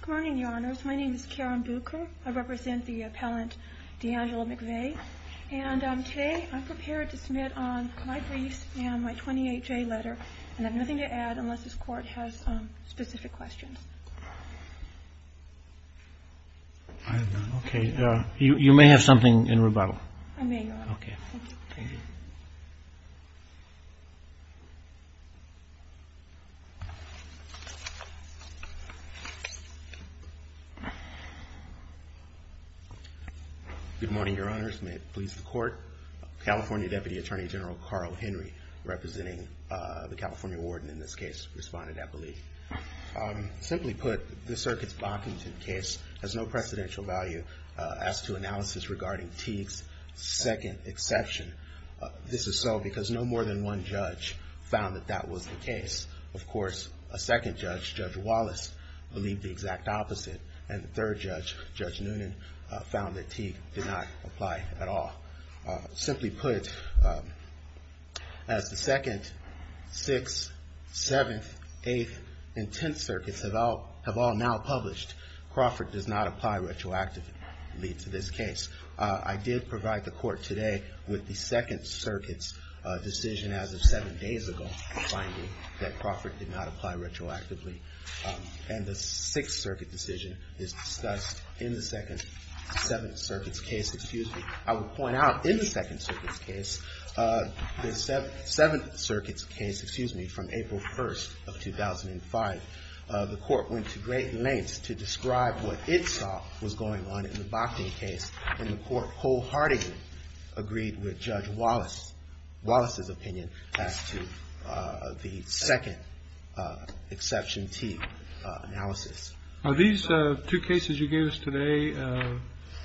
Good morning, your honors. My name is Karen Bucher. I represent the appellant D'Angelo McVay, and today I'm prepared to submit on my briefs and my 28-J letter, and I have nothing to add unless this court has specific questions. Okay. You may have something in rebuttal. I may not. Okay. Thank you. Good morning, your honors. May it please the court. California Deputy Attorney General Carl Henry, representing the California warden in this case, responded, I believe. Simply put, the circuits Bockington case has no precedential value as to analysis regarding Teague's second exception. This is so because no more than one judge found that that was the case. Of course, a second judge, Judge Wallace, believed the exact opposite, and the third judge, Judge Noonan, found that Teague did not apply at all. Simply put, as the 2nd, 6th, 7th, 8th, and 10th circuits have all now published, Crawford does not apply retroactively to this case. I did provide the court today with the 2nd circuit's decision as of seven days ago, finding that Crawford did not apply retroactively. And the 6th circuit decision is discussed in the 2nd, 7th circuit's case, excuse me. I will point out in the 2nd circuit's case, the 7th circuit's case, excuse me, from April 1st of 2005, the court went to great lengths to describe what it saw was going on in the Bockington case. And the court wholeheartedly agreed with Judge Wallace's opinion as to the 2nd exception Teague analysis. Are these two cases you gave us today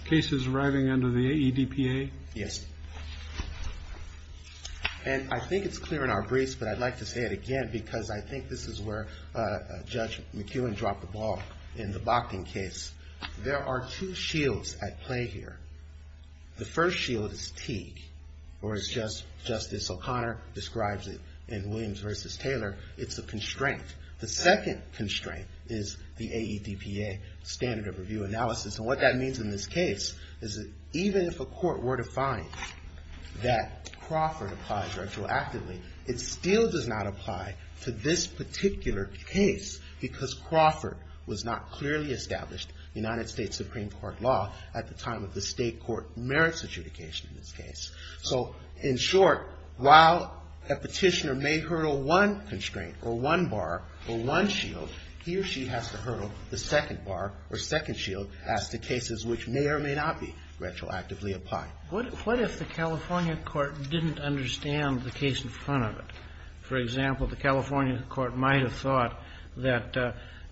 cases arriving under the AEDPA? Yes. And I think it's clear in our briefs, but I'd like to say it again because I think this is where Judge McEwen dropped the ball in the Bockington case. There are two shields at play here. The first shield is Teague, or as Justice O'Connor describes it in Williams v. Taylor, it's a constraint. The second constraint is the AEDPA standard of review analysis. And what that means in this case is that even if a court were to find that Crawford applies retroactively, it still does not apply to this particular case. Because Crawford was not clearly established in United States Supreme Court law at the time of the state court merits adjudication in this case. So in short, while a petitioner may hurdle one constraint or one bar or one shield, he or she has to hurdle the second bar or second shield as to cases which may or may not be retroactively applied. What if the California court didn't understand the case in front of it? For example, the California court might have thought that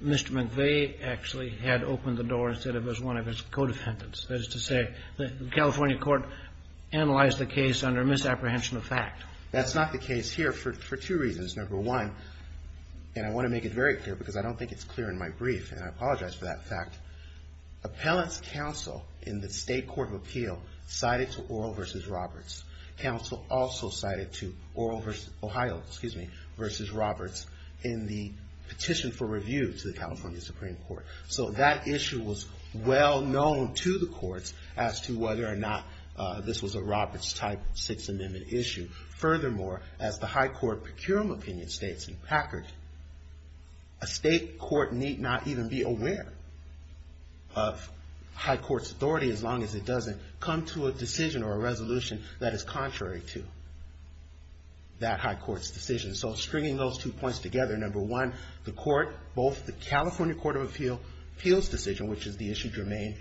Mr. McVeigh actually had opened the door instead of as one of his co-defendants. That is to say, the California court analyzed the case under misapprehension of fact. That's not the case here for two reasons. Number one, and I want to make it very clear because I don't think it's clear in my brief, and I apologize for that fact, Appellant's counsel in the state court of appeal cited to Oral v. Roberts. Counsel also cited to Oral v. Ohio, excuse me, v. Roberts in the petition for review to the California Supreme Court. So that issue was well known to the courts as to whether or not this was a Roberts-type Sixth Amendment issue. Furthermore, as the high court procurum opinion states in Packard, a state court need not even be aware of high court's authority as long as it doesn't come to a decision or a resolution that is contrary to that high court's decision. So stringing those two points together, number one, the court, both the California court of appeal's decision, which is the issue germane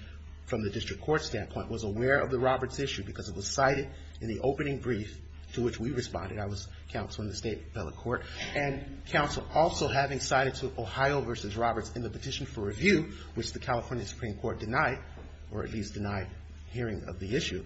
from the district court standpoint, was aware of the Roberts issue because it was cited in the opening brief to which we responded. I was counsel in the state appellate court. And counsel also having cited to Ohio v. Roberts in the petition for review, which the California Supreme Court denied, or at least denied hearing of the issue,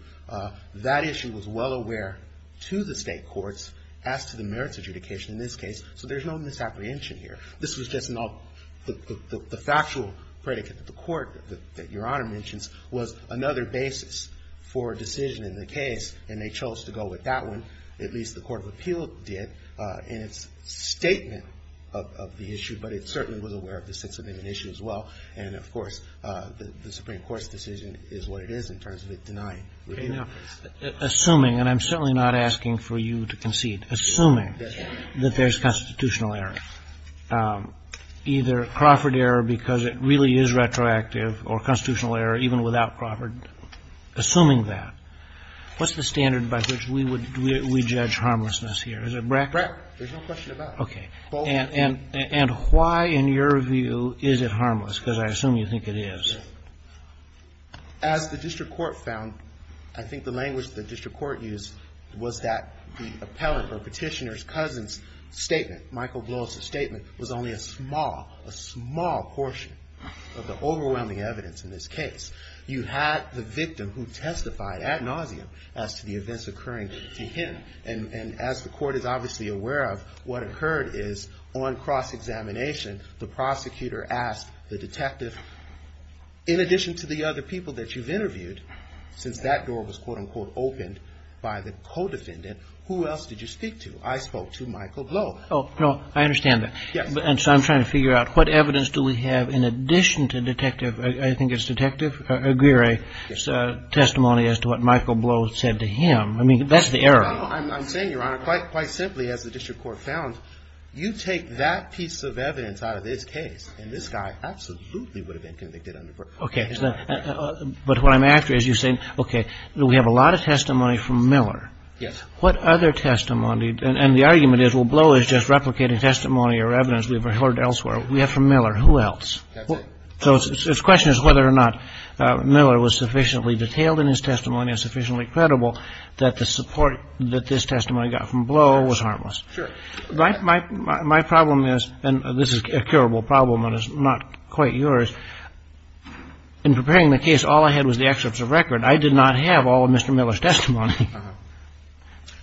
that issue was well aware to the state courts as to the merits adjudication in this case. So there's no misapprehension here. This was just an all the factual predicate that the court that Your Honor mentions was another basis for a decision in the case, and they chose to go with that one. At least the court of appeal did in its statement of the issue. But it certainly was aware of the Sixth Amendment issue as well. And, of course, the Supreme Court's decision is what it is in terms of it denying review. Roberts. Assuming, and I'm certainly not asking for you to concede, assuming that there's constitutional error, either Crawford error because it really is retroactive or constitutional error even without Crawford, assuming that, what's the standard by which we would we judge harmlessness here? Is it BRAC? BRAC. There's no question about it. Okay. And why, in your view, is it harmless? Because I assume you think it is. As the district court found, I think the language the district court used was that the appellant or petitioner's cousin's statement, Michael Blow's statement, was only a small, a small portion of the overwhelming evidence in this case. You had the victim who testified ad nauseum as to the events occurring to him. And as the court is obviously aware of, what occurred is on cross-examination, the prosecutor asked the detective, in addition to the other people that you've interviewed, since that door was, quote, unquote, opened by the co-defendant, who else did you speak to? I spoke to Michael Blow. Oh, no. I understand that. Yes. And so I'm trying to figure out what evidence do we have in addition to detective – I think it's Detective Aguirre's testimony as to what Michael Blow said to him. I mean, that's the error. I'm saying, Your Honor, quite simply, as the district court found, you take that piece of evidence out of this case, and this guy absolutely would have been convicted under BRAC. Okay. But what I'm after is you're saying, okay, we have a lot of testimony from Miller. What other testimony – and the argument is, well, Blow is just replicating testimony or evidence we've heard elsewhere. We have from Miller. Who else? That's it. So the question is whether or not Miller was sufficiently detailed in his testimony and sufficiently credible that the support that this testimony got from Blow was harmless. Sure. My problem is – and this is a curable problem and it's not quite yours. In preparing the case, all I had was the excerpts of record. I did not have all of Mr. Miller's testimony.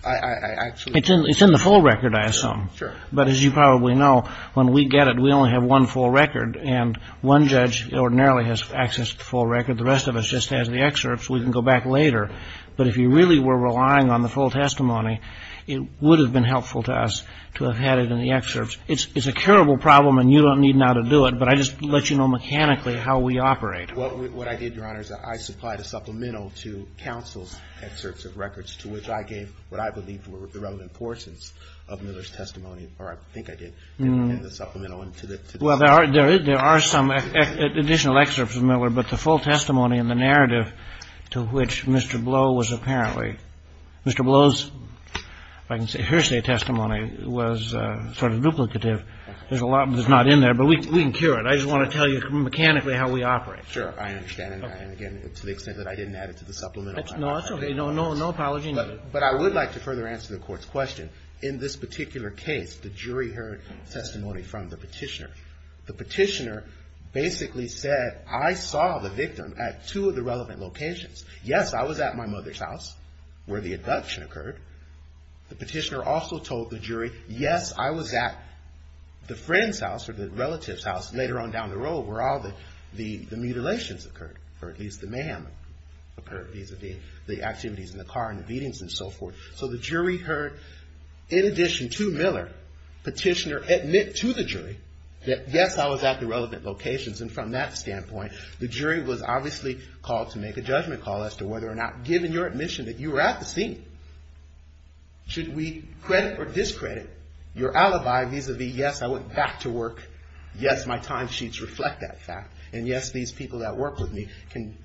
I actually – It's in the full record, I assume. Sure. But as you probably know, when we get it, we only have one full record. And one judge ordinarily has access to the full record. The rest of us just has the excerpts. We can go back later. But if you really were relying on the full testimony, it would have been helpful to us to have had it in the excerpts. It's a curable problem and you don't need now to do it, but I just let you know mechanically how we operate. What I did, Your Honor, is I supplied a supplemental to counsel's excerpts of records to which I gave what I believed were the relevant portions of Miller's testimony, or I think I did, in the supplemental. Well, there are some additional excerpts of Miller, but the full testimony and the narrative to which Mr. Blow was apparently – Mr. Blow's, if I can say, hearsay testimony was sort of duplicative. There's a lot that's not in there, but we can cure it. I just want to tell you mechanically how we operate. Sure. I understand, and again, to the extent that I didn't add it to the supplemental. No, that's okay. No apology needed. But I would like to further answer the Court's question. In this particular case, the jury heard testimony from the petitioner. The petitioner basically said, I saw the victim at two of the relevant locations. Yes, I was at my mother's house where the abduction occurred. The petitioner also told the jury, yes, I was at the friend's house or the relative's house later on down the road where all the mutilations occurred, or at least the mayhem occurred vis-a-vis the activities in the car and the beatings and so forth. So the jury heard, in addition to Miller, petitioner admit to the jury that, yes, I was at the relevant locations. And from that standpoint, the jury was obviously called to make a judgment call as to whether or not, given your admission that you were at the scene, should we credit or discredit your alibi vis-a-vis, yes, I went back to work, yes, my timesheets reflect that fact, and yes, these people that work with me can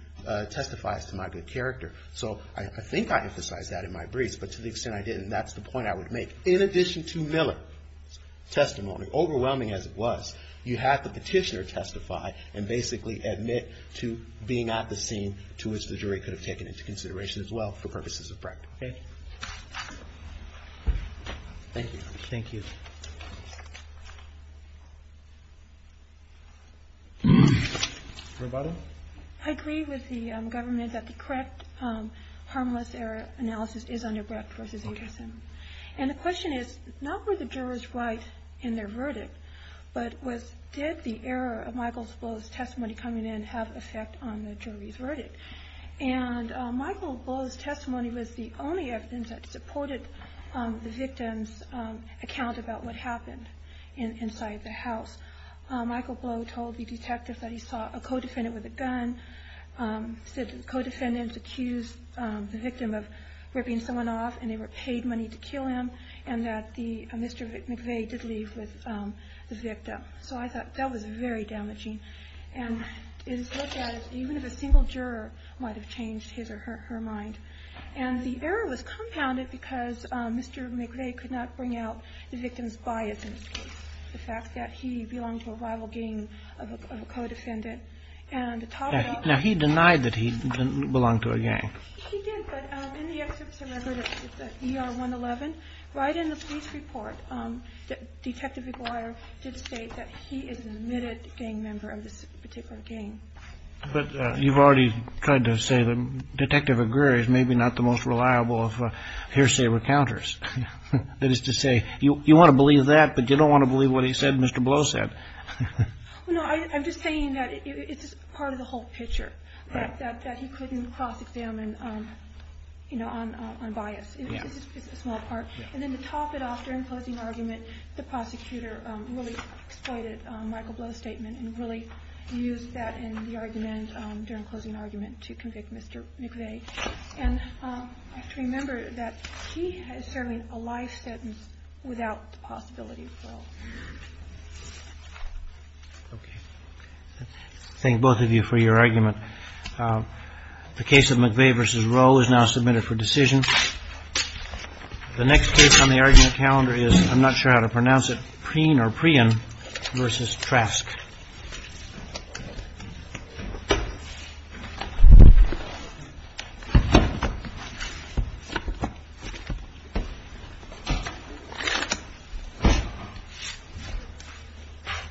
testify as to my good character. So I think I emphasized that in my briefs, but to the extent I didn't, that's the point I would make. In addition to Miller's testimony, overwhelming as it was, you had the petitioner testify and basically admit to being at the scene to which the jury could have taken into consideration as well for purposes of practice. Okay. Thank you. Thank you. Roboto? I agree with the government that the correct harmless error analysis is under Brecht v. Anderson. And the question is, not were the jurors right in their verdict, but did the error of Michael Blow's testimony coming in have effect on the jury's verdict? And Michael Blow's testimony was the only evidence that supported the victim's account about what happened inside the house. Michael Blow told the detective that he saw a co-defendant with a gun, said the co-defendants accused the victim of ripping someone off, and they were paid money to kill him, and that Mr. McVeigh did leave with the victim. So I thought that was very damaging. And his look at it, even if a single juror might have changed his or her mind. And the error was compounded because Mr. McVeigh could not bring out the victim's bias in his case. The fact that he belonged to a rival gang of a co-defendant. And to top it off. Now, he denied that he belonged to a gang. He did. But in the excerpts of record of ER111, right in the police report, Detective Aguirre did state that he is an admitted gang member of this particular gang. But you've already tried to say that Detective Aguirre is maybe not the most reliable of hearsay recounters. That is to say, you want to believe that, but you don't want to believe what he said Mr. Blow said. No, I'm just saying that it's part of the whole picture. That he couldn't cross-examine, you know, on bias. It's a small part. And then to top it off, during closing argument, the prosecutor really exploited Michael Blow's statement and really used that in the argument during closing argument to convict Mr. McVeigh. And I have to remember that he has served a life sentence without the possibility of parole. Okay. Thank both of you for your argument. The case of McVeigh v. Rowe is now submitted for decision. The next case on the argument calendar is, I'm not sure how to pronounce it, Preen v. Trask.